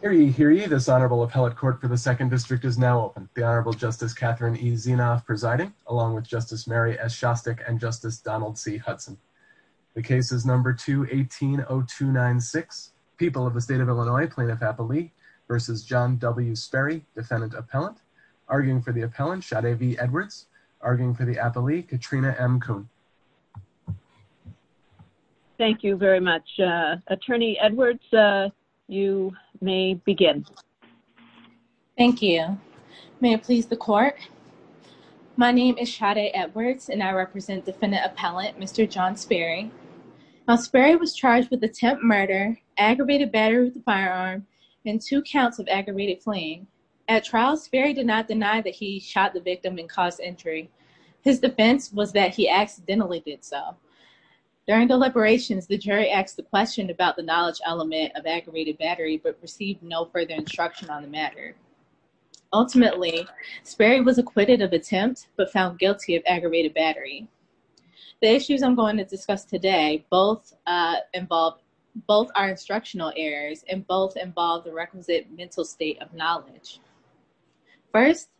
Hear ye, hear ye, this Honorable Appellate Court for the 2nd District is now open. The Honorable Justice Catherine E. Zinoff presiding, along with Justice Mary S. Shostak and Justice Donald C. Hudson. The case is number 2180296, People of the State of Illinois, Plaintiff-Appellee v. John W. Sperry, Defendant-Appellant. Arguing for the Appellant, Sade V. Edwards. Arguing for the Appellee, Katrina M. Kuhn. Thank you very much. Attorney Edwards, you may begin. Thank you. May it please the Court. My name is Sade Edwards, and I represent Defendant-Appellant Mr. John Sperry. Now, Sperry was charged with attempt murder, aggravated battery with a firearm, and two counts of aggravated fleeing. At trial, Sperry did not deny that he shot the victim and caused injury. His defense was that he accidentally did so. During deliberations, the jury asked the question about the knowledge element of aggravated battery, but received no further instruction on the matter. Ultimately, Sperry was acquitted of attempt, but found guilty of aggravated battery. The issues I'm going to discuss today, both are instructional errors, and both involve the requisite mental state of knowledge. First,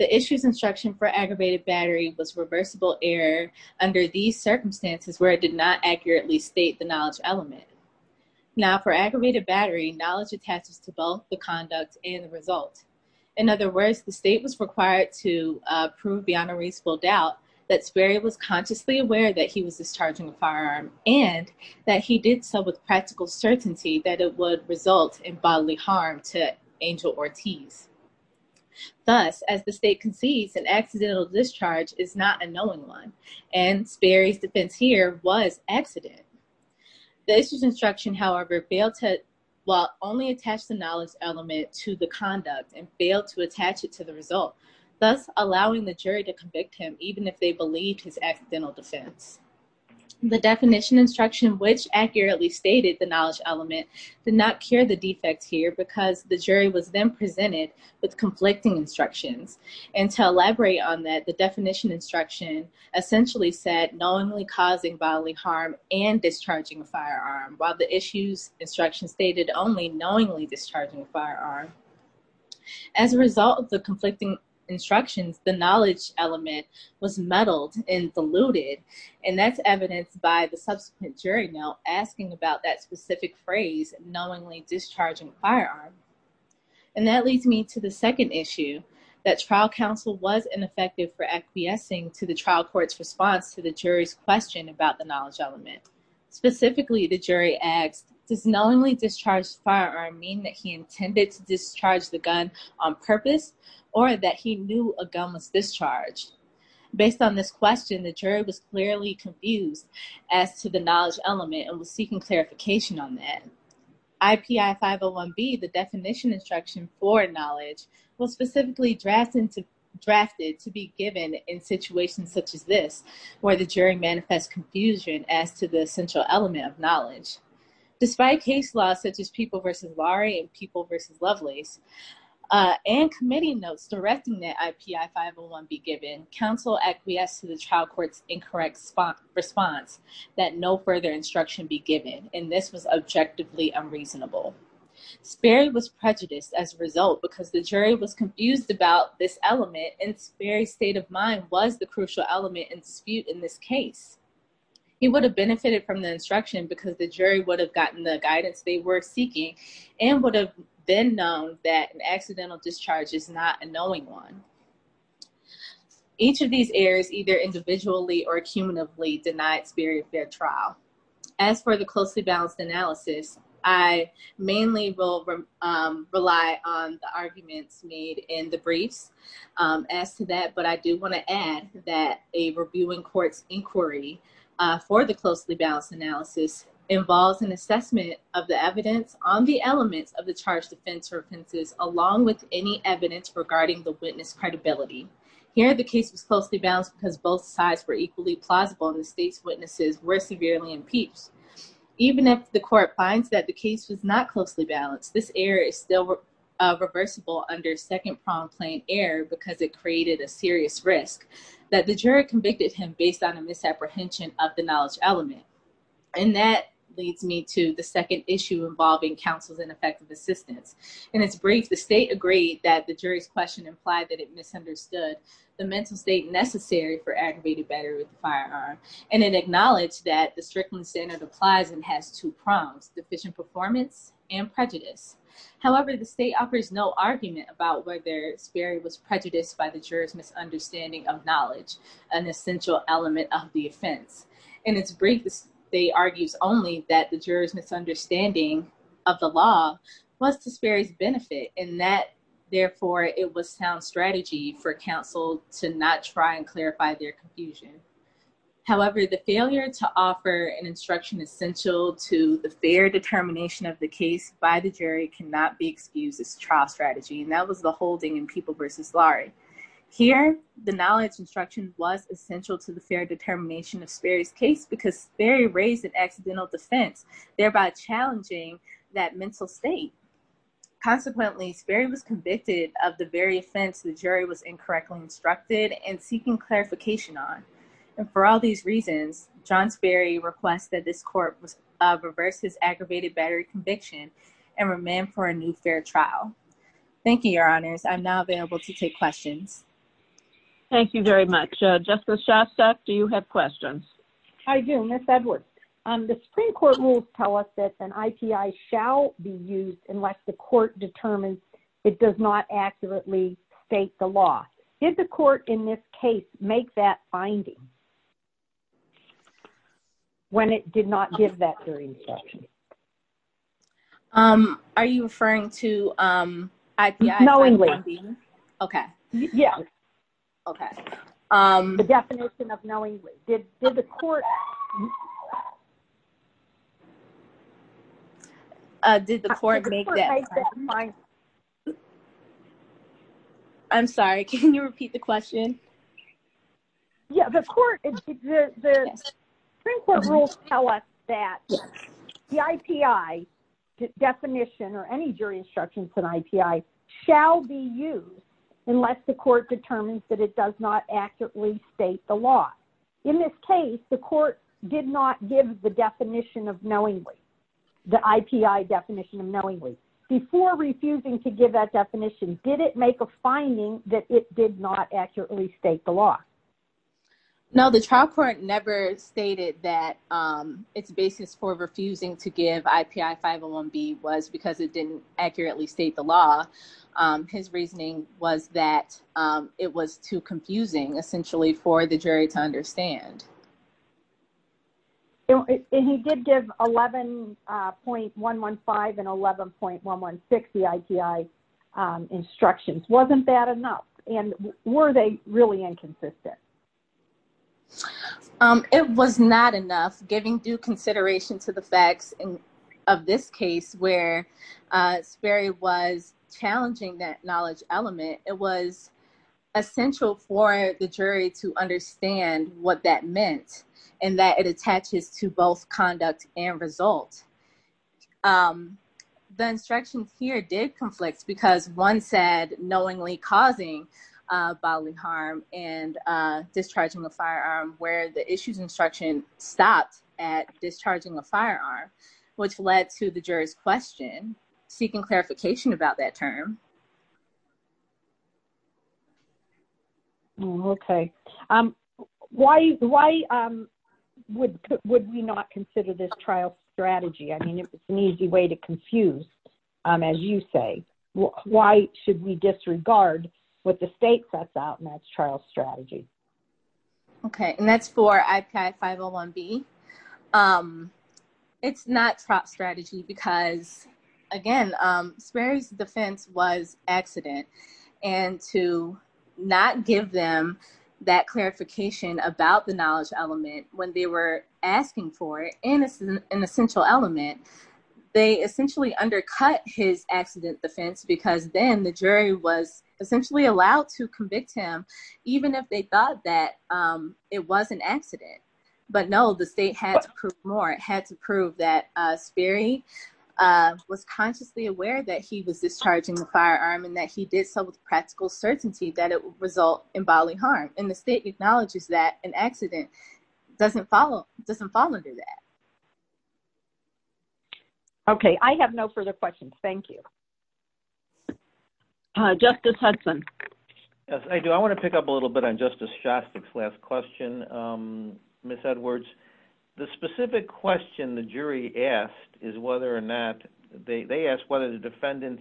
the issue's instruction for aggravated battery was reversible error under these circumstances where it did not accurately state the knowledge element. Now, for aggravated battery, knowledge attaches to both the conduct and the result. In other words, the state was required to prove beyond a reasonable doubt that Sperry was consciously aware that he was discharging a firearm, and that he did so with practical certainty that it would result in bodily harm to Angel Ortiz. Thus, as the state concedes, an accidental discharge is not a knowing one, and Sperry's defense here was accident. The issue's instruction, however, failed to, well, only attach the knowledge element to the conduct and failed to attach it to the result, thus allowing the jury to convict him even if they believed his accidental defense. The definition instruction which accurately stated the knowledge element did not cure the defect here because the jury was then presented with conflicting instructions. And to elaborate on that, the definition instruction essentially said knowingly causing bodily harm and discharging a firearm, while the issue's instruction stated only knowingly discharging a firearm. As a result of the conflicting instructions, the knowledge element was muddled and diluted, and that's evidenced by the subsequent jury note asking about that specific phrase, knowingly discharging a firearm. And that leads me to the second issue, that trial counsel was ineffective for acquiescing to the trial court's response to the jury's question about the knowledge element. Specifically, the jury asked, does knowingly discharged firearm mean that he intended to discharge the gun on purpose or that he knew a gun was discharged? Based on this question, the jury was clearly confused as to the knowledge element and was seeking clarification on that. IPI 501B, the definition instruction for knowledge, was specifically drafted to be given in situations such as this, where the jury manifests confusion as to the central element of knowledge. Despite case laws such as People v. Laurie and People v. Lovelace, and committee notes directing that IPI 501B given, counsel acquiesced to the trial court's incorrect response that no further instruction be given, and this was objectively unreasonable. Sperry was prejudiced as a result because the jury was confused about this element, and Sperry's state of mind was the crucial element in dispute in this case. He would have benefited from the instruction because the jury would have gotten the guidance they were seeking and would have then known that an accidental discharge is not a knowing one. Each of these errors either individually or cumulatively denied Sperry a fair trial. As for the closely balanced analysis, I mainly will rely on the arguments made in the briefs as to that, but I do want to add that a reviewing court's inquiry for the closely balanced analysis involves an assessment of the evidence on the elements of the charged offense or offenses, along with any evidence regarding the witness credibility. Here, the case was closely balanced because both sides were equally plausible and the state's witnesses were severely impeached. Even if the court finds that the case was not closely balanced, this error is still reversible under second-pronged plain error because it created a serious risk that the jury convicted him based on a misapprehension of the knowledge element, and that leads me to the second issue involving counsel's ineffective assistance. In its brief, the state agreed that the jury's question implied that it misunderstood the mental state necessary for aggravated battery with a firearm, and it acknowledged that the Strickland standard applies and has two prongs, deficient performance and prejudice. However, the state offers no argument about whether Sperry was prejudiced by the juror's misunderstanding of knowledge, an essential element of the offense. In its brief, the state argues only that the juror's misunderstanding of the law was to Sperry's benefit, and that, therefore, it was sound strategy for counsel to not try and clarify their confusion. However, the failure to offer an instruction essential to the fair determination of the case by the jury cannot be excused as trial strategy, and that was the holding in People v. Larry. Here, the knowledge instruction was essential to the fair determination of Sperry's case because Sperry raised an accidental defense, thereby challenging that mental state. Consequently, Sperry was convicted of the very offense the jury was incorrectly instructed and seeking clarification on, and for all these reasons, John Sperry requests that this court reverse his aggravated battery conviction and remand for a new fair trial. Thank you, Your Honors. I'm now available to take questions. Thank you very much. Justice Shostak, do you have questions? I do, Ms. Edwards. The Supreme Court rules tell us that an IPI shall be used unless the court determines it does not accurately state the law. Did the court in this case make that finding? When it did not give that jury instruction? Are you referring to IPI? Knowingly. Okay. Yeah. Okay. The definition of knowingly. Did the court... Did the court make that finding? I'm sorry, can you repeat the question? Yeah. The Supreme Court rules tell us that the IPI definition or any jury instruction for an IPI shall be used unless the court determines that it does not accurately state the law. In this case, the court did not give the definition of knowingly, the IPI definition of knowingly. Before refusing to give that definition, did it make a finding that it did not accurately state the law? No, the trial court never stated that its basis for refusing to give IPI 501B was because it didn't accurately state the law. His reasoning was that it was too confusing, essentially, for the jury to understand. He did give 11.115 and 11.116, the IPI instructions. Wasn't that enough? And were they really inconsistent? It was not enough. Giving due consideration to the facts of this case where Sperry was to understand what that meant and that it attaches to both conduct and result. The instructions here did conflict because one said knowingly causing bodily harm and discharging a firearm, where the issues instruction stopped at discharging a firearm, which led to the juror's question seeking clarification about that term. Okay. Why would we not consider this trial strategy? I mean, it's an easy way to confuse, as you say. Why should we disregard what the state sets out in that trial strategy? Okay. And that's for IPI 501B. It's not trial strategy because, again, Sperry's defense was accident. And to not give them that clarification about the knowledge element when they were asking for it, and it's an essential element, they essentially undercut his accident defense because then the jury was essentially allowed to convict him even if they thought that it was an accident. But no, the state had to prove more. It had to prove that Sperry was consciously aware that he was discharging the firearm and that he did so with practical certainty that it would result in bodily harm. And the state acknowledges that an accident doesn't fall under that. Okay. I have no further questions. Thank you. Justice Hudson. Yes, I do. I want to pick up a little bit on Justice Shostak's last question, Ms. Edwards. The specific question the jury asked is whether or not, they asked whether the defendant,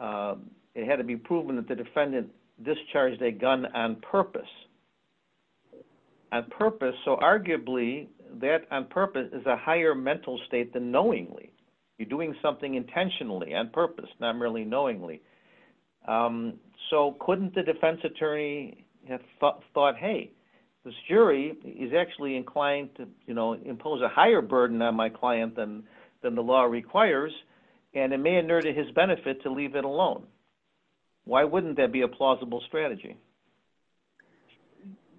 it had to be proven that the defendant discharged a gun on purpose. On purpose. So arguably, that on purpose is a higher mental state than knowingly. You're doing something intentionally, on purpose, not merely knowingly. So couldn't the defense attorney have thought, hey, this jury is actually inclined to, you know, impose a higher burden on my client than the law requires, and it may inure to his benefit to leave it alone. Why wouldn't that be a plausible strategy?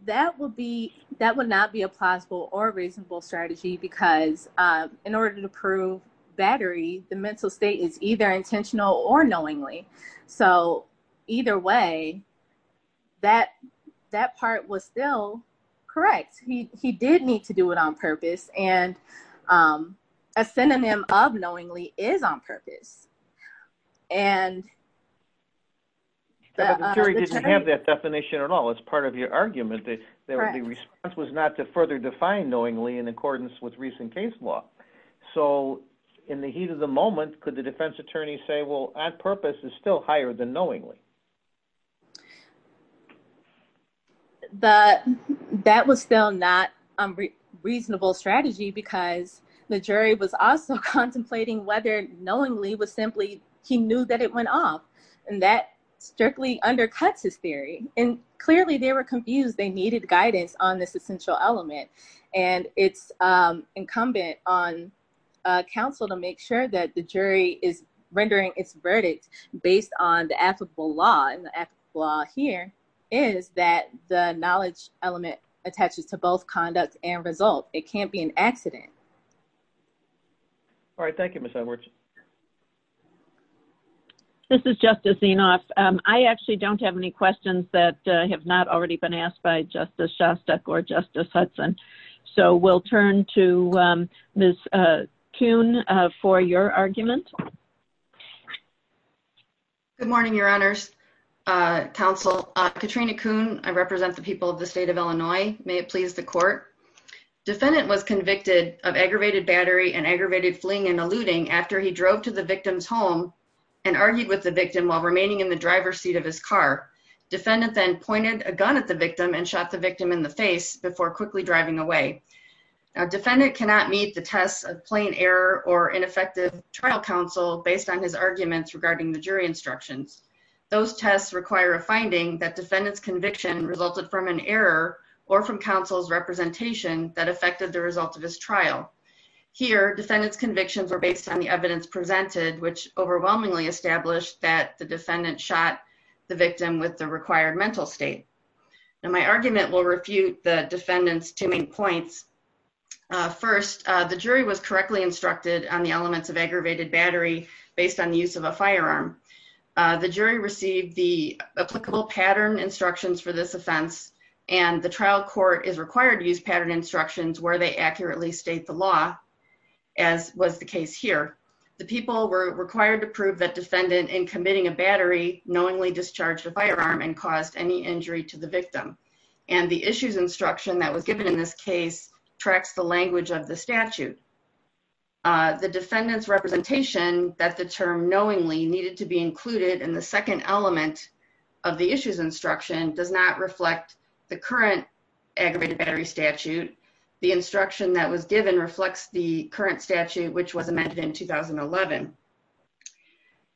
That would not be a plausible or reasonable strategy because in order to prove battery, the mental state is either intentional or knowingly. So either way, that part was still correct. He did need to do it on purpose. And a synonym of knowingly is on purpose. And The jury didn't have that definition at all. It's part of your argument that the response was not to further define knowingly in accordance with recent case law. So in the heat of the moment, could the defense attorney say, well, on purpose is still higher than knowingly. That was still not a reasonable strategy because the jury was also contemplating whether knowingly was simply he knew that it went off. And that strictly undercuts his theory. And clearly they were confused. They needed guidance on this essential element. And it's incumbent on counsel to make sure that the jury is rendering its verdict based on the applicable law. And the applicable law here is that the knowledge element attaches to both conduct and result. It can't be an accident. All right. Thank you, Miss Edwards. This is Justice Zinoff. I actually don't have any questions that have not already been asked by Justice Shostak or Justice Hudson. So we'll turn to Miss Kuhn for your argument. Good morning, Your Honors. Counsel Katrina Kuhn, I represent the people of the state of Illinois. May it please the court. Defendant was convicted of aggravated battery and aggravated fleeing and eluding after he drove to the victim's home and argued with the victim while remaining in the driver's seat of his car. Defendant then pointed a gun at the victim and shot the victim in the face before quickly driving away. A defendant cannot meet the tests of plain error or ineffective trial counsel based on his arguments regarding the jury instructions. Those tests require a resulted from an error or from counsel's representation that affected the result of his trial. Here, defendant's convictions are based on the evidence presented, which overwhelmingly established that the defendant shot the victim with the required mental state. Now, my argument will refute the defendant's two main points. First, the jury was correctly instructed on the elements of aggravated battery based on the use of a firearm. The jury received the applicable pattern instructions for this offense, and the trial court is required to use pattern instructions where they accurately state the law, as was the case here. The people were required to prove that defendant in committing a battery knowingly discharged a firearm and caused any injury to the victim. And the issues instruction that was given in this case tracks the language of the statute. The defendant's representation that the term knowingly needed to be included in the second element of the issues instruction does not reflect the current aggravated battery statute. The instruction that was given reflects the current statute, which was amended in 2011.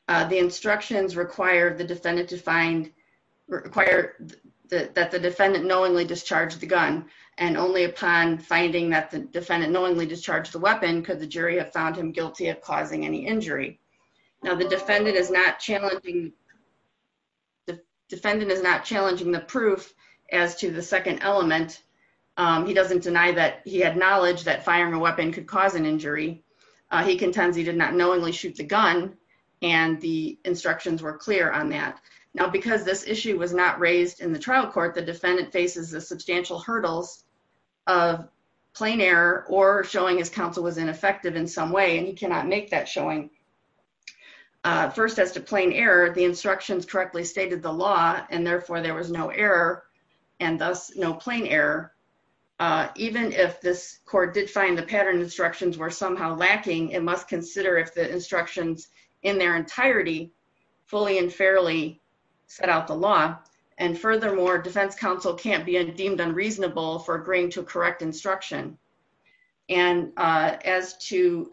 The instructions require that the defendant knowingly discharged the gun, and only upon finding that the defendant knowingly discharged the weapon could the jury have found him guilty of causing any injury. Now, the defendant is not challenging the proof as to the second element. He doesn't deny that he had knowledge that firing a weapon could cause an injury. He contends he did not knowingly shoot the gun, and the instructions were clear on that. Now, because this issue was not raised in the trial court, the defendant faces the substantial hurdles of plain error or showing his counsel was ineffective in some way, and he cannot make that showing. First, as to plain error, the instructions correctly stated the law, and therefore there was no error, and thus no plain error. Even if this court did find the pattern instructions were somehow lacking, it must consider if the instructions in their entirety fully and fairly set out the law. And furthermore, defense counsel can't be deemed unreasonable for agreeing to correct instruction. And as to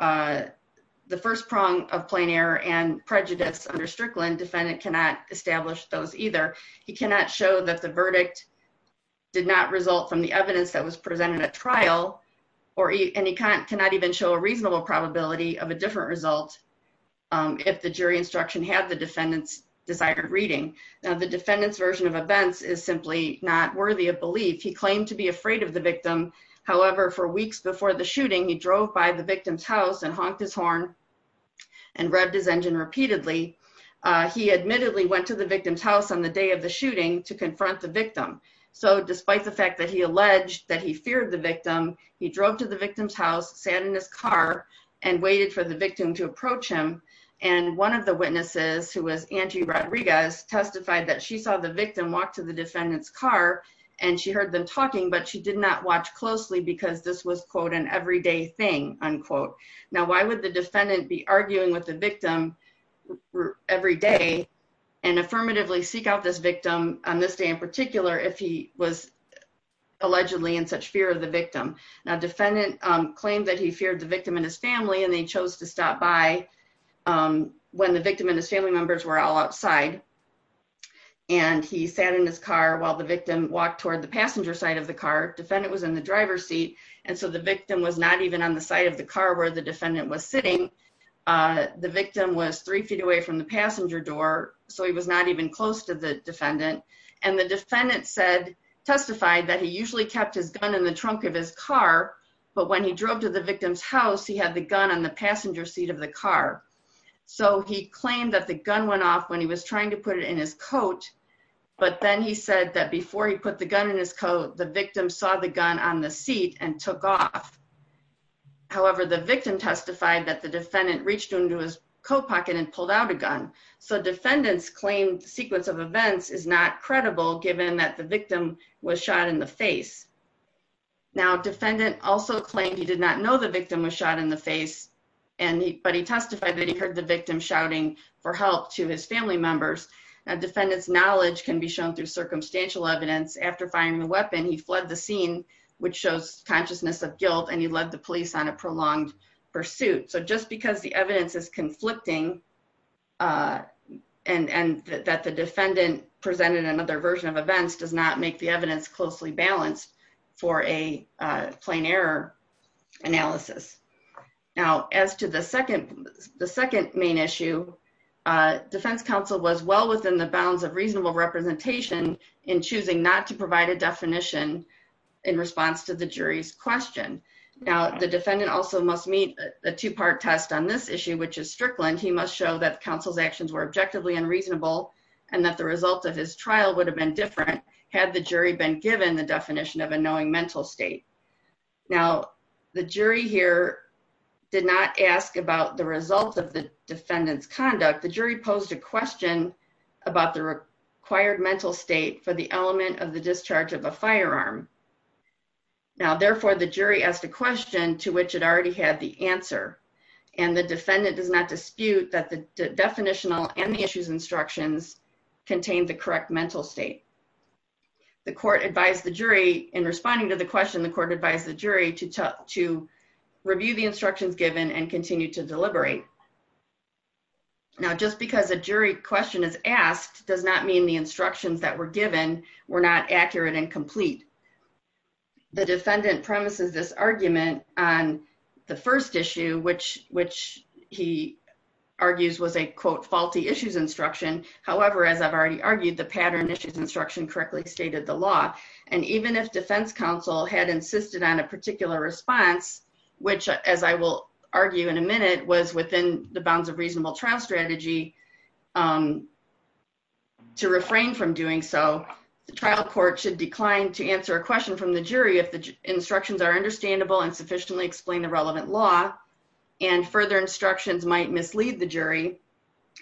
the first prong of plain error and prejudice under Strickland, defendant cannot establish those either. He cannot show that the verdict did not result from the evidence that was presented at trial, and he cannot even show a reasonable probability of a different result if the jury instruction had the defendant's desired reading. Now, the defendant's version of events is simply not worthy of belief. He claimed to be afraid of the victim. However, for weeks before the shooting, he drove by the victim's house and honked his horn and revved his engine repeatedly. He admittedly went to the victim's house on the day of the shooting to confront the victim. So, despite the fact that he alleged that he feared the victim, he drove to the victim's house, sat in his car, and waited for the victim to approach him, and one of the witnesses, who was Angie Rodriguez, testified that she saw the victim walk to the defendant's car and she heard them talking, but she did not watch closely because this was, quote, an everyday thing, unquote. Now, why would the defendant be arguing with the victim every day and affirmatively seek out this victim on this day in particular if he was in such fear of the victim? Now, the defendant claimed that he feared the victim and his family and they chose to stop by when the victim and his family members were all outside, and he sat in his car while the victim walked toward the passenger side of the car. The defendant was in the driver's seat, and so the victim was not even on the side of the car where the defendant was sitting. The victim was three feet away from the passenger door, so he was not even close to the defendant, and the defendant testified that he usually kept his gun in the trunk of his car, but when he drove to the victim's house, he had the gun on the passenger seat of the car, so he claimed that the gun went off when he was trying to put it in his coat, but then he said that before he put the gun in his coat, the victim saw the gun on the seat and took off. However, the victim testified that the defendant reached into his coat pocket and pulled out a gun, so defendants claim sequence of events is not credible given that the victim was shot in the face. Now, defendant also claimed he did not know the victim was shot in the face, but he testified that he heard the victim shouting for help to his family members. Now, defendant's knowledge can be shown through circumstantial evidence. After firing the weapon, he fled the scene, which shows consciousness of guilt, and he led the police on a prolonged pursuit, so just because the evidence is conflicting and that the defendant presented another version of events does not make the evidence closely balanced for a plain error analysis. Now, as to the second main issue, defense counsel was well within the bounds of reasonable representation in choosing not to provide a definition in response to the jury's question. Now, the defendant also must meet a two-part test on this issue, which is Strickland. He must show that counsel's actions were objectively unreasonable and that the result of his trial would have been different had the jury been given the definition of a knowing mental state. Now, the jury here did not ask about the result of the defendant's conduct. The jury posed a question about the required mental state for the element of the discharge of a firearm. Now, therefore, the jury asked a question to which it already had the answer, and the defendant does not dispute that the definitional and the issues instructions contain the correct mental state. The court advised the jury in responding to the question, the court advised the jury to review the instructions given and continue to deliberate. Now, just because a jury question is asked does not mean the instructions that were given were not accurate and complete. The defendant premises this argument on the first issue, which he argues was a, quote, faulty issues instruction. However, as I've already argued, the pattern issues instruction correctly stated the law. And even if defense counsel had insisted on a particular response, which, as I will argue in a minute, was within the bounds of reasonable trial strategy, to refrain from doing so, the trial court should decline to answer a question from the jury if the instructions are understandable and sufficiently explain the relevant law. And further instructions might mislead the jury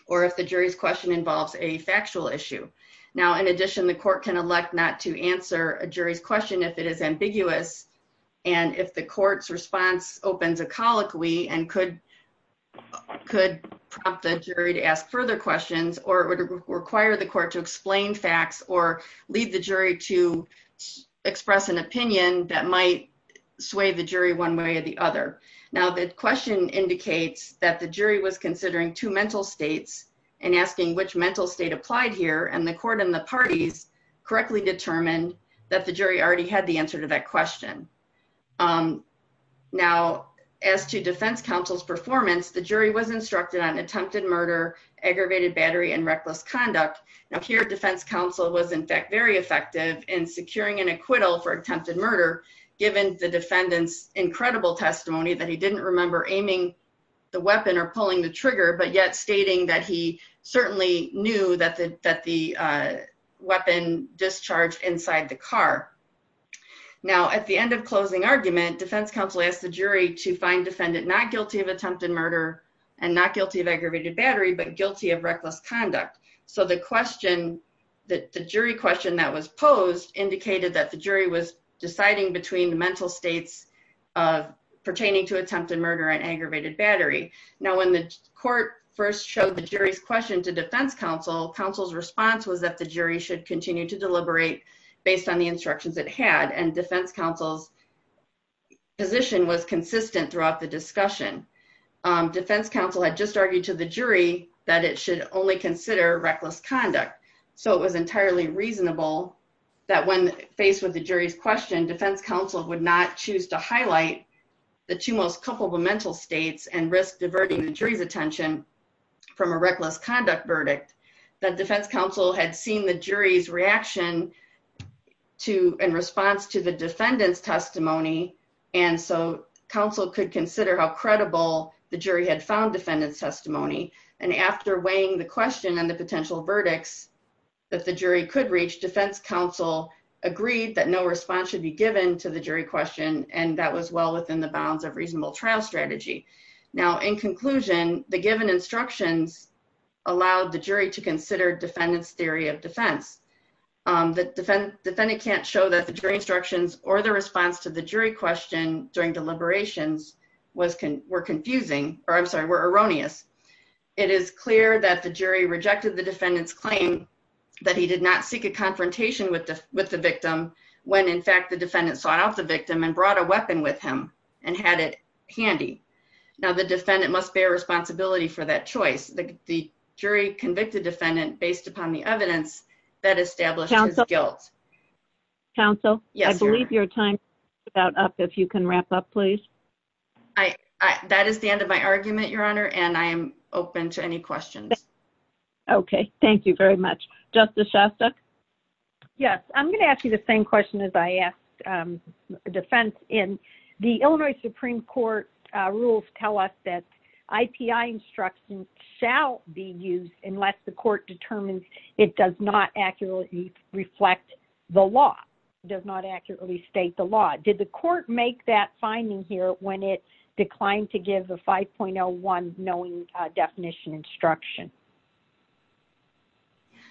or if the jury's question involves a factual issue. Now, in addition, the court can elect not to answer a jury's question if it is ambiguous and if the court's response opens a colloquy and could prompt the jury to ask further questions or to require the court to explain facts or lead the jury to express an opinion that might sway the jury one way or the other. Now, the question indicates that the jury was considering two mental states and asking which mental state applied here, and the court and the parties correctly determined that the jury already had the answer to that question. Now, as to defense counsel's performance, the jury was instructed on attempted murder, aggravated battery, and reckless conduct. Now, here defense counsel was, in fact, very effective in securing an acquittal for attempted murder, given the defendant's incredible testimony that he didn't remember aiming the weapon or pulling the trigger, but yet stating that he certainly knew that the weapon discharged inside the car. Now, at the end of closing argument, defense counsel asked the jury to find defendant not guilty of attempted murder and not guilty of aggravated battery, but guilty of reckless conduct. So the question, the jury question that was posed indicated that the jury was deciding between the mental states pertaining to attempted murder and aggravated battery. Now, when the court first showed the jury's question to defense counsel, counsel's response was that the jury should continue to deliberate based on the instructions it had, and defense counsel's position was consistent throughout the discussion. Defense counsel had just argued to the jury that it should only consider reckless conduct, so it was entirely reasonable that when faced with the jury's question, defense counsel would not choose to highlight the two most culpable mental states and risk diverting the jury's attention from a reckless conduct verdict. That defense counsel had seen the jury's reaction to, in response to the defendant's testimony, and so counsel could consider how credible the jury had found defendant's testimony, and after weighing the question and the potential verdicts that the jury could reach, defense counsel agreed that no response should be given to the jury question, and that was well within the bounds of reasonable trial strategy. Now, in conclusion, the given instructions allowed the jury to consider defendant's theory of defense. The defendant can't show that the jury instructions or the response to the jury question during deliberations were confusing, or I'm sorry, were erroneous. It is clear that the jury rejected the defendant's claim that he did not seek a confrontation with the victim when, in fact, the defendant sought out the victim and brought a weapon with him and had it handy. Now, the defendant must bear responsibility for that choice. The jury convicted defendant based upon the evidence that established his guilt. Counsel, I believe your time is about up. If you can wrap up, please. That is the end of my argument, Your Honor, and I am open to any questions. Okay. Thank you very much. Justice Shostak? Yes. I'm going to ask you the same question as I asked defense in. The Illinois Supreme Court rules tell us that IPI instructions shall be used unless the accurately reflect the law, does not accurately state the law. Did the court make that finding here when it declined to give a 5.01 knowing definition instruction?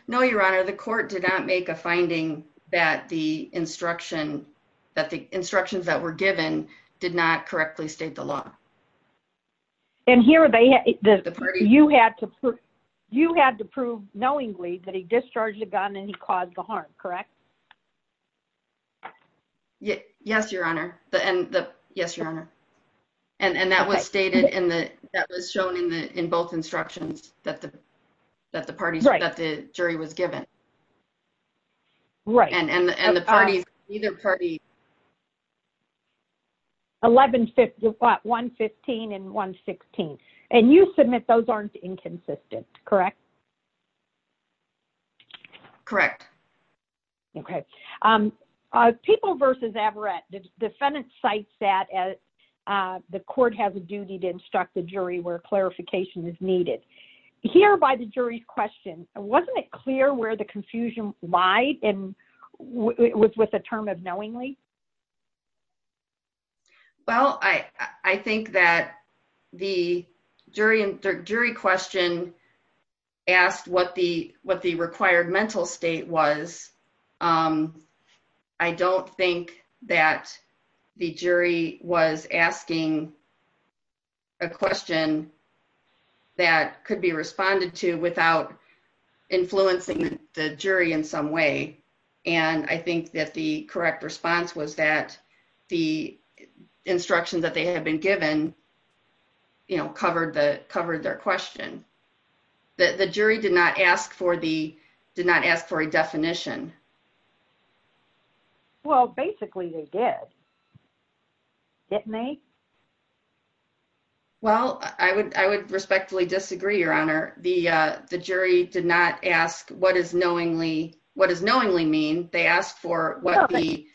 No, Your Honor. The court did not make a finding that the instructions that were given did not correctly state the law. And here you had to prove knowingly that he discharged the gun and he caused the harm, correct? Yes, Your Honor. Yes, Your Honor. And that was shown in both instructions that the jury was given. Right. And the parties, either party... 1115 and 1116. And you submit those aren't inconsistent, correct? Correct. Okay. People versus Averett. The defendant cites that the court has a duty to hear by the jury's question. Wasn't it clear where the confusion lied with the term of knowingly? Well, I think that the jury question asked what the required mental state was. I don't think that the jury was asking a question that could be responded to without influencing the jury in some way. And I think that the correct response was that the instructions that they had been given, you know, covered their question. The jury did not ask for a definition. Well, basically, they did. Didn't they? Well, I would respectfully disagree, Your Honor. The jury did not ask what is knowingly mean. They asked for what the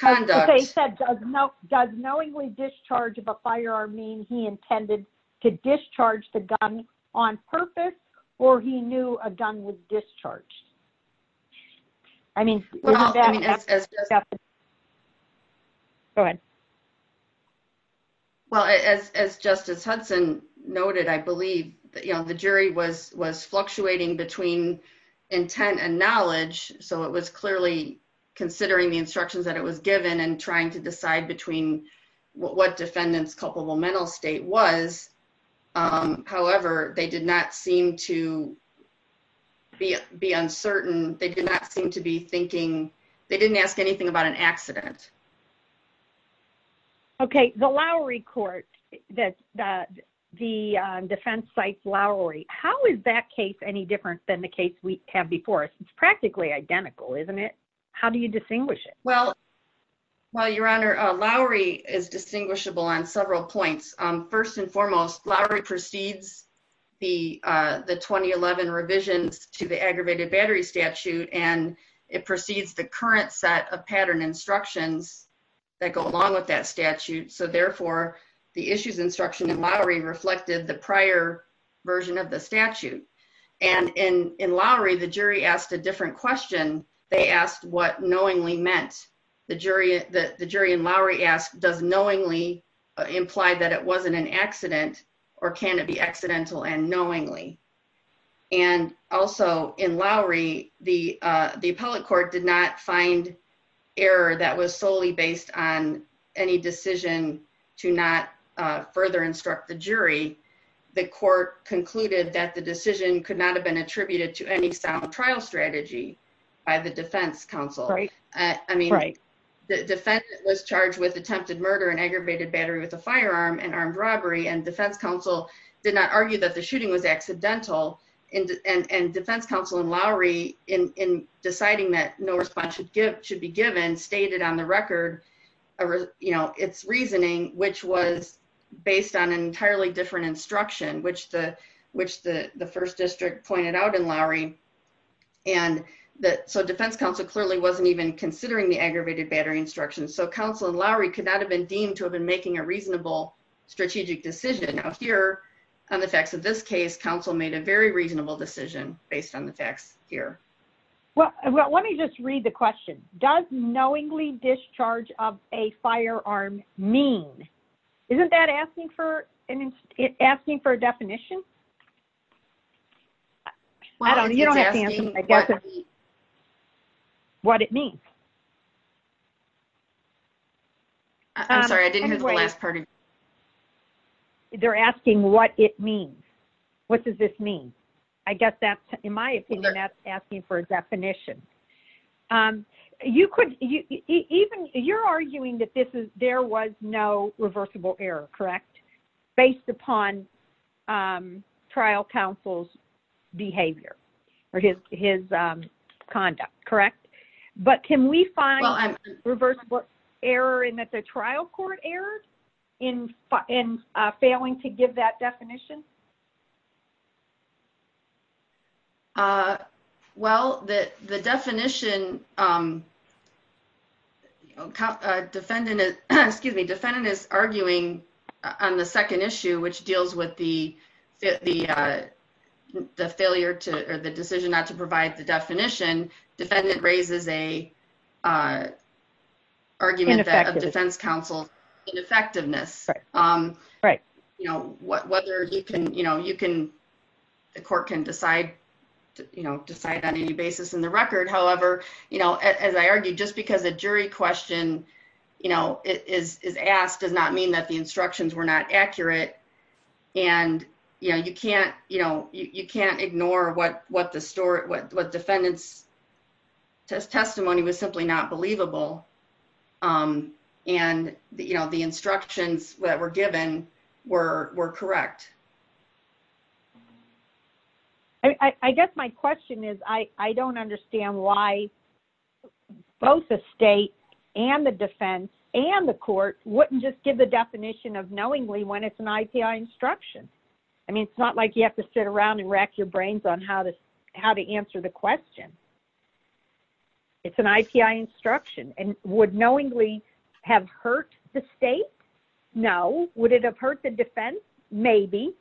conduct... They said, does knowingly discharge of a firearm mean he intended to discharge the gun on purpose or he knew a gun was discharged? Go ahead. Well, as Justice Hudson noted, I believe, you know, the jury was fluctuating between intent and knowledge. So, it was clearly considering the instructions that it was given and trying to decide between what defendant's culpable mental state was. However, they did not seem to be uncertain. They did not seem to be thinking... They didn't ask anything about an accident. Okay. The Lowry court, the defense sites Lowry, how is that case any different than the case we have before us? It's practically identical, isn't it? How do you distinguish it? Well, Your Honor, Lowry is distinguishable on several points. First and foremost, Lowry precedes the 2011 revisions to the aggravated battery statute, and it precedes the current set of pattern instructions that go along with that statute. So, therefore, the issues instruction in Lowry reflected the prior version of the statute. And in Lowry, the jury asked a different question. They asked what knowingly meant. The jury in Lowry asked, does knowingly imply that it wasn't an accident, or can it be accidental and knowingly? And also in Lowry, the appellate court did not find error that was solely based on any decision to not further instruct the jury. The court concluded that the decision could not have attributed to any sound trial strategy by the defense counsel. I mean, the defendant was charged with attempted murder and aggravated battery with a firearm and armed robbery, and defense counsel did not argue that the shooting was accidental. And defense counsel in Lowry, in deciding that no response should be given, stated on the record its reasoning, which was based on an entirely different instruction, which the first district pointed out in Lowry. And so defense counsel clearly wasn't even considering the aggravated battery instruction. So counsel in Lowry could not have been deemed to have been making a reasonable strategic decision. Now here, on the facts of this case, counsel made a very reasonable decision based on the facts here. Well, let me just read the question. Does knowingly discharge of a firearm mean isn't that asking for a definition? I don't know. You don't have to answer. I guess it's what it means. I'm sorry. I didn't hear the last part. They're asking what it means. What does this mean? I guess that, in my opinion, that's asking for a error, correct? Based upon trial counsel's behavior or his conduct, correct? But can we find a reversible error in that the trial court erred in failing to give that definition? Well, the definition, defendant is arguing on the second issue, which deals with the failure to, or the decision not to provide the definition. Defendant raises a argument that a defense counsel's ineffectiveness. Whether he could have made a reasonable decision you can, the court can decide on any basis in the record. However, as I argued, just because a jury question is asked does not mean that the instructions were not accurate. You can't ignore what defendant's testimony was simply not believable. And the instructions that were given were correct. I guess my question is, I don't understand why both the state and the defense and the court wouldn't just give the definition of knowingly when it's an IPI instruction. It's not like you have to sit around and rack your brains on how to answer the question. It's an IPI instruction and would knowingly have hurt the state? No. Would it have hurt the defense? Maybe.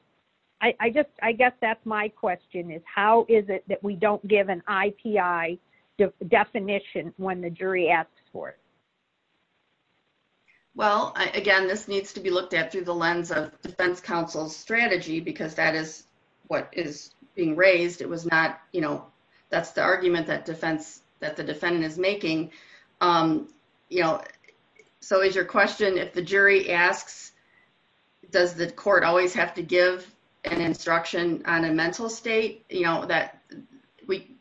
I guess that's my question is how is it that we don't give an IPI definition when the jury asks for it? Well, again, this needs to be looked at through the lens of defense counsel's what is being raised. It was not, you know, that's the argument that defense, that the defendant is making. You know, so is your question if the jury asks, does the court always have to give an instruction on a mental state, you know, that we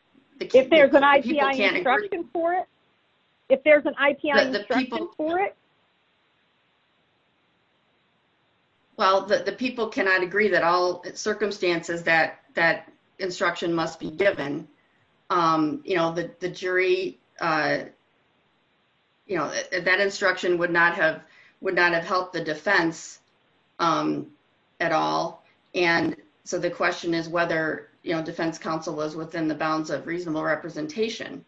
If there's an IPI instruction for it? If there's an IPI instruction for it? Well, the people cannot agree that all circumstances that that instruction must be given, you know, the jury, you know, that instruction would not have would not have helped the defense at all. And so the question is whether, you know, defense counsel was within the bounds of reasonable representation.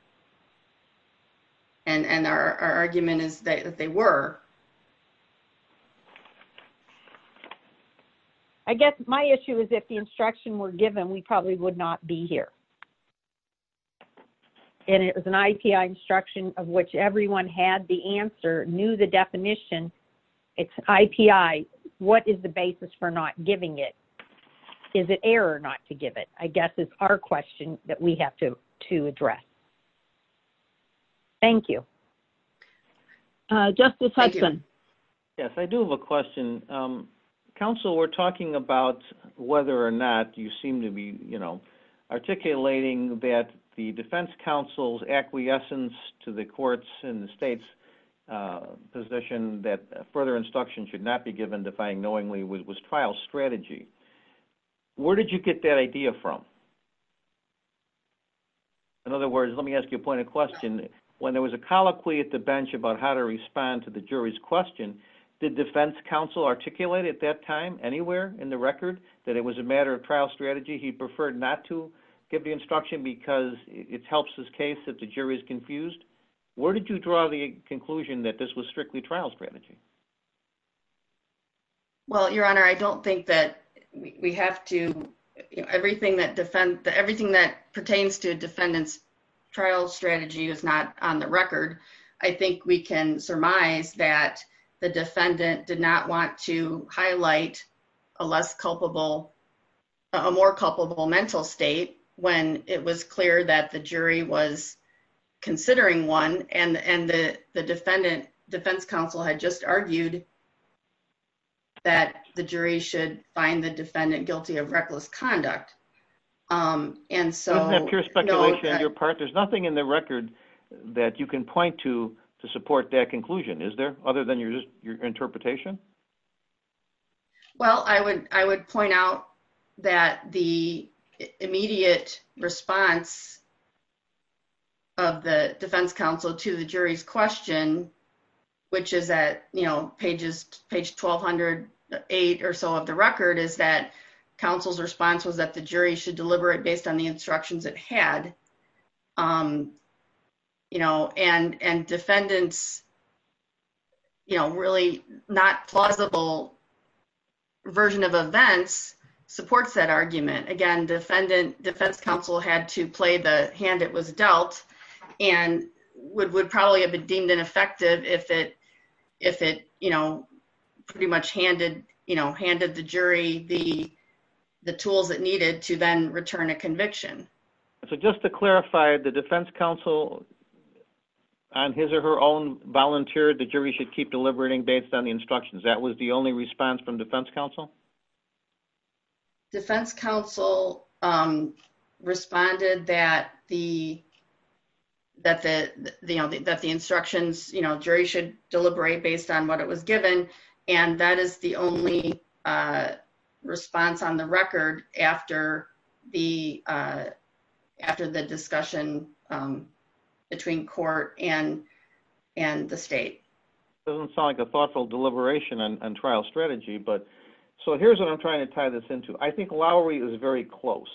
And our argument is that they were. I guess my issue is if the instruction were given, we probably would not be here. And it was an IPI instruction of which everyone had the answer, knew the definition, it's IPI, what is the basis for not giving it? Is it error not to give it? I guess it's our question that we have to to address. Thank you. Justice Hudson. Yes, I do have a question. Counsel, we're talking about whether or not you seem to be, you know, articulating that the defense counsel's acquiescence to the courts and the state's position that further instruction should not be given defying knowingly was trial strategy. Where did you get that idea from? In other words, let me ask you a point of question. When there was a colloquy at the bench about how to respond to the jury's question, the defense counsel articulated at that time anywhere in the record that it was a matter of trial strategy. He preferred not to give the instruction because it helps his case that the jury is confused. Where did you draw the conclusion that this was strictly trial strategy? Well, Your Honor, I don't think that we have to, you know, everything that defense, everything that pertains to defendant's trial strategy is not on the record. I think we can surmise that the defendant did not want to highlight a less culpable, a more culpable mental state when it was clear that the jury was considering one and the defendant, defense counsel, had just argued that the jury should find the defendant guilty of reckless conduct. And so... Isn't that pure speculation on your part? There's nothing in the record that you can point to to support that conclusion, is there, other than your interpretation? Well, I would point out that the immediate response of the defense counsel to the jury's question, which is at, you know, pages, page 1208 or so of the record, is that counsel's response was that the jury should deliver it based on the instructions it had. You know, and defendant's, you know, really not plausible version of events supports that argument. Again, defendant, defense counsel had to play the hand it was dealt and would probably have been deemed ineffective if it, you know, pretty much handed, you know, handed the jury the tools it needed to then return a conviction. So just to clarify, the defense counsel, on his or her own, volunteered the jury should keep deliberating based on the instructions. That was the only response from defense counsel? Defense counsel responded that the, you know, that the instructions, you know, jury should deliberate based on what it was given. And that is the only response on the record after the discussion between court and the state. Doesn't sound like a thoughtful deliberation on trial strategy, but so here's what I'm trying to tie this into. I think Lowry is very close.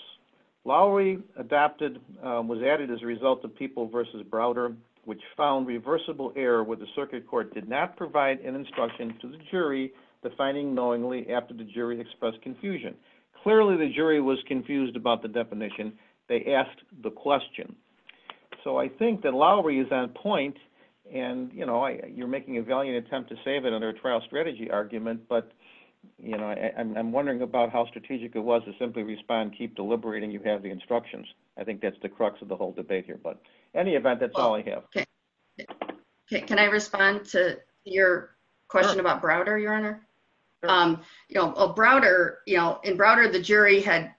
Lowry adopted, was added as a result of People v. Browder, which found reversible error where the circuit court did not provide an instruction to the jury defining knowingly after the jury expressed confusion. Clearly, the jury was confused about the definition. They asked the question. So I think that Lowry is on point. And, you know, you're making a valiant attempt to save it under a trial strategy argument. But, you know, I'm wondering about how strategic it was to simply respond, keep deliberating, you have the instructions. I think that's the crux of the whole debate here. But any event, that's all I have. Um, you know, Browder, you know, in Browder, the jury had,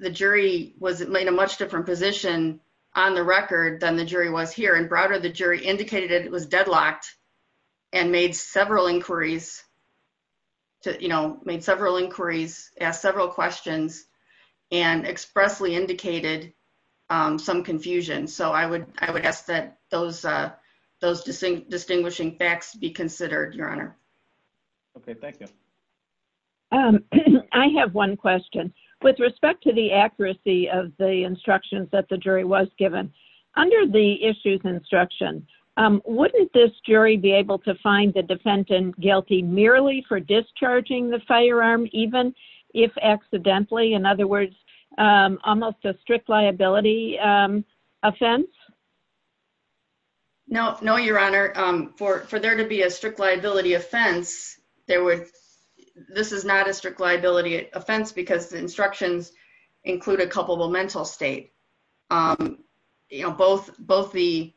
the jury was made a much different position on the record than the jury was here. And Browder, the jury indicated it was deadlocked and made several inquiries to, you know, made several inquiries, asked several questions, and expressly indicated some confusion. So I would, I would ask that those, those distinct facts be considered, Your Honor. Okay, thank you. I have one question. With respect to the accuracy of the instructions that the jury was given, under the issues instruction, wouldn't this jury be able to find the defendant guilty merely for discharging the firearm, even if accidentally, in other words, almost a strict liability offense? No, no, Your Honor. For, for there to be a strict liability offense, there would, this is not a strict liability offense, because the instructions include a culpable mental state. You know, both, both the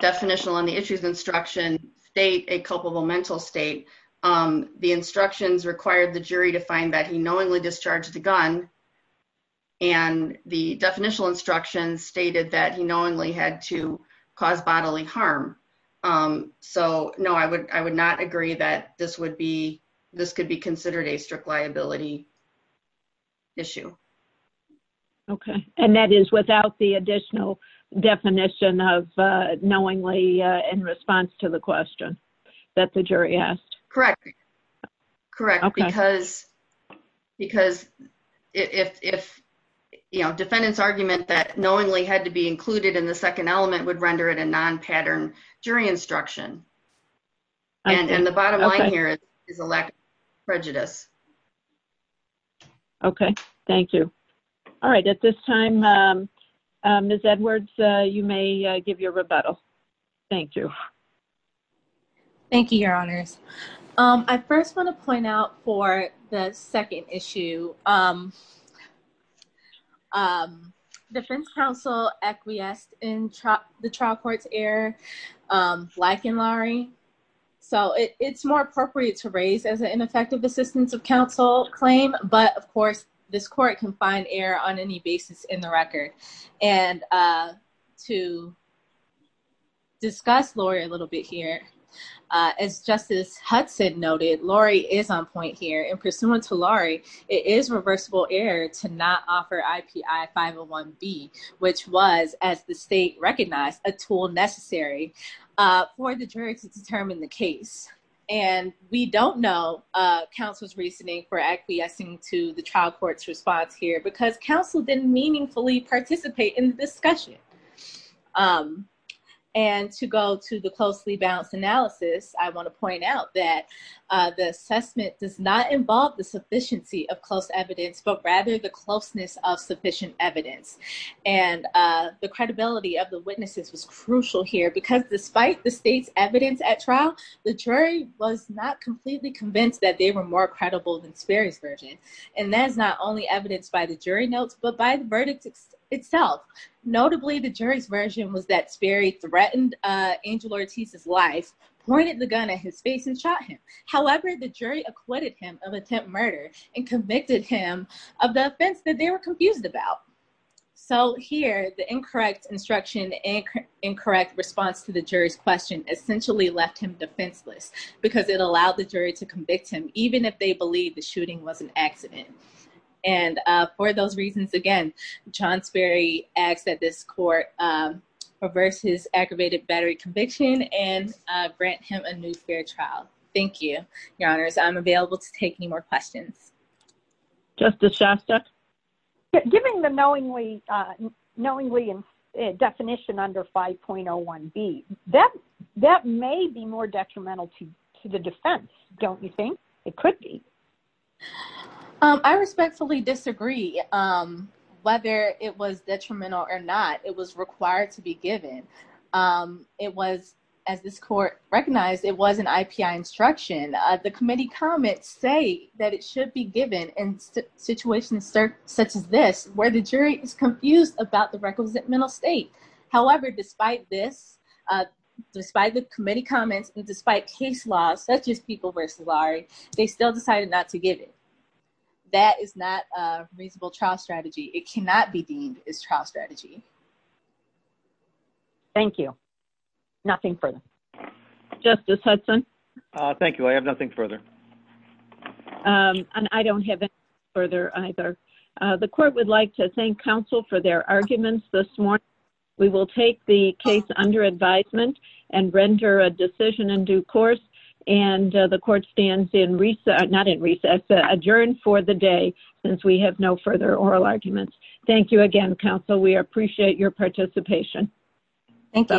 definitional and the issues instruction state a culpable mental state. The instructions required the jury to find that he knowingly discharged the gun. And the definitional instructions stated that he knowingly had to cause bodily harm. So, no, I would, I would not agree that this would be, this could be considered a strict liability issue. Okay. And that is without the additional definition of knowingly in response to the if, you know, defendant's argument that knowingly had to be included in the second element would render it a non-pattern jury instruction. And the bottom line here is a lack of prejudice. Okay, thank you. All right, at this time, Ms. Edwards, you may give your rebuttal. Thank you. Thank you, Your Honors. I first want to point out for the second issue, defense counsel acquiesced in the trial court's error, lacking lari. So, it's more appropriate to raise as an ineffective assistance of counsel claim, but of course, this court can find error on any basis in the record. And to discuss Lori a little bit here, as Justice Hudson noted, Lori is on point here and pursuant to Lori, it is reversible error to not offer IPI 501B, which was as the state recognized a tool necessary for the jury to determine the case. And we don't know counsel's reasoning for acquiescing to the trial court's response here because counsel didn't meaningfully participate in the discussion. And to go to the closely balanced analysis, I want to point out that the assessment does not involve the sufficiency of close evidence, but rather the closeness of sufficient evidence. And the credibility of the witnesses was crucial here because despite the state's evidence at trial, the jury was not completely convinced that they were more credible than Sperry's version. And that's not only evidenced by the jury notes, but by the verdict itself. Notably, the jury's version was that Sperry threatened Angel Ortiz's life, pointed the gun at his face and shot him. However, the jury acquitted him of attempt murder and convicted him of the offense that they were confused about. So here, the incorrect instruction and incorrect response to the jury's question essentially left him defenseless because it allowed the jury to convict him even if they believe the shooting was an accident. And for those reasons, again, John Sperry asks that this court reverse his aggravated battery conviction and grant him a new fair trial. Thank you, your honors. I'm available to take any more questions. Justice Shasta? Given the knowingly definition under 5.01b, that may be more detrimental to the defense, don't you think? It could be. I respectfully disagree. Whether it was detrimental or not, it was required to be given. It was, as this court recognized, it was an IPI instruction. The committee comments say that it should be given in situations such as this, where the jury is confused about the representmental state. However, despite this, despite the committee comments and despite case laws, such as people versus lawyer, they still decided not to give it. That is not a reasonable trial strategy. It cannot be deemed as trial strategy. Thank you. Nothing further. Justice Hudson? Thank you. I have nothing further. And I don't have anything further either. The court would like to thank counsel for their arguments this morning. We will take the case under advisement and render a decision in due course. The court stands adjourned for the day since we have no further oral arguments. Thank you again, counsel. We appreciate your participation. Thank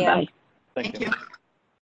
you.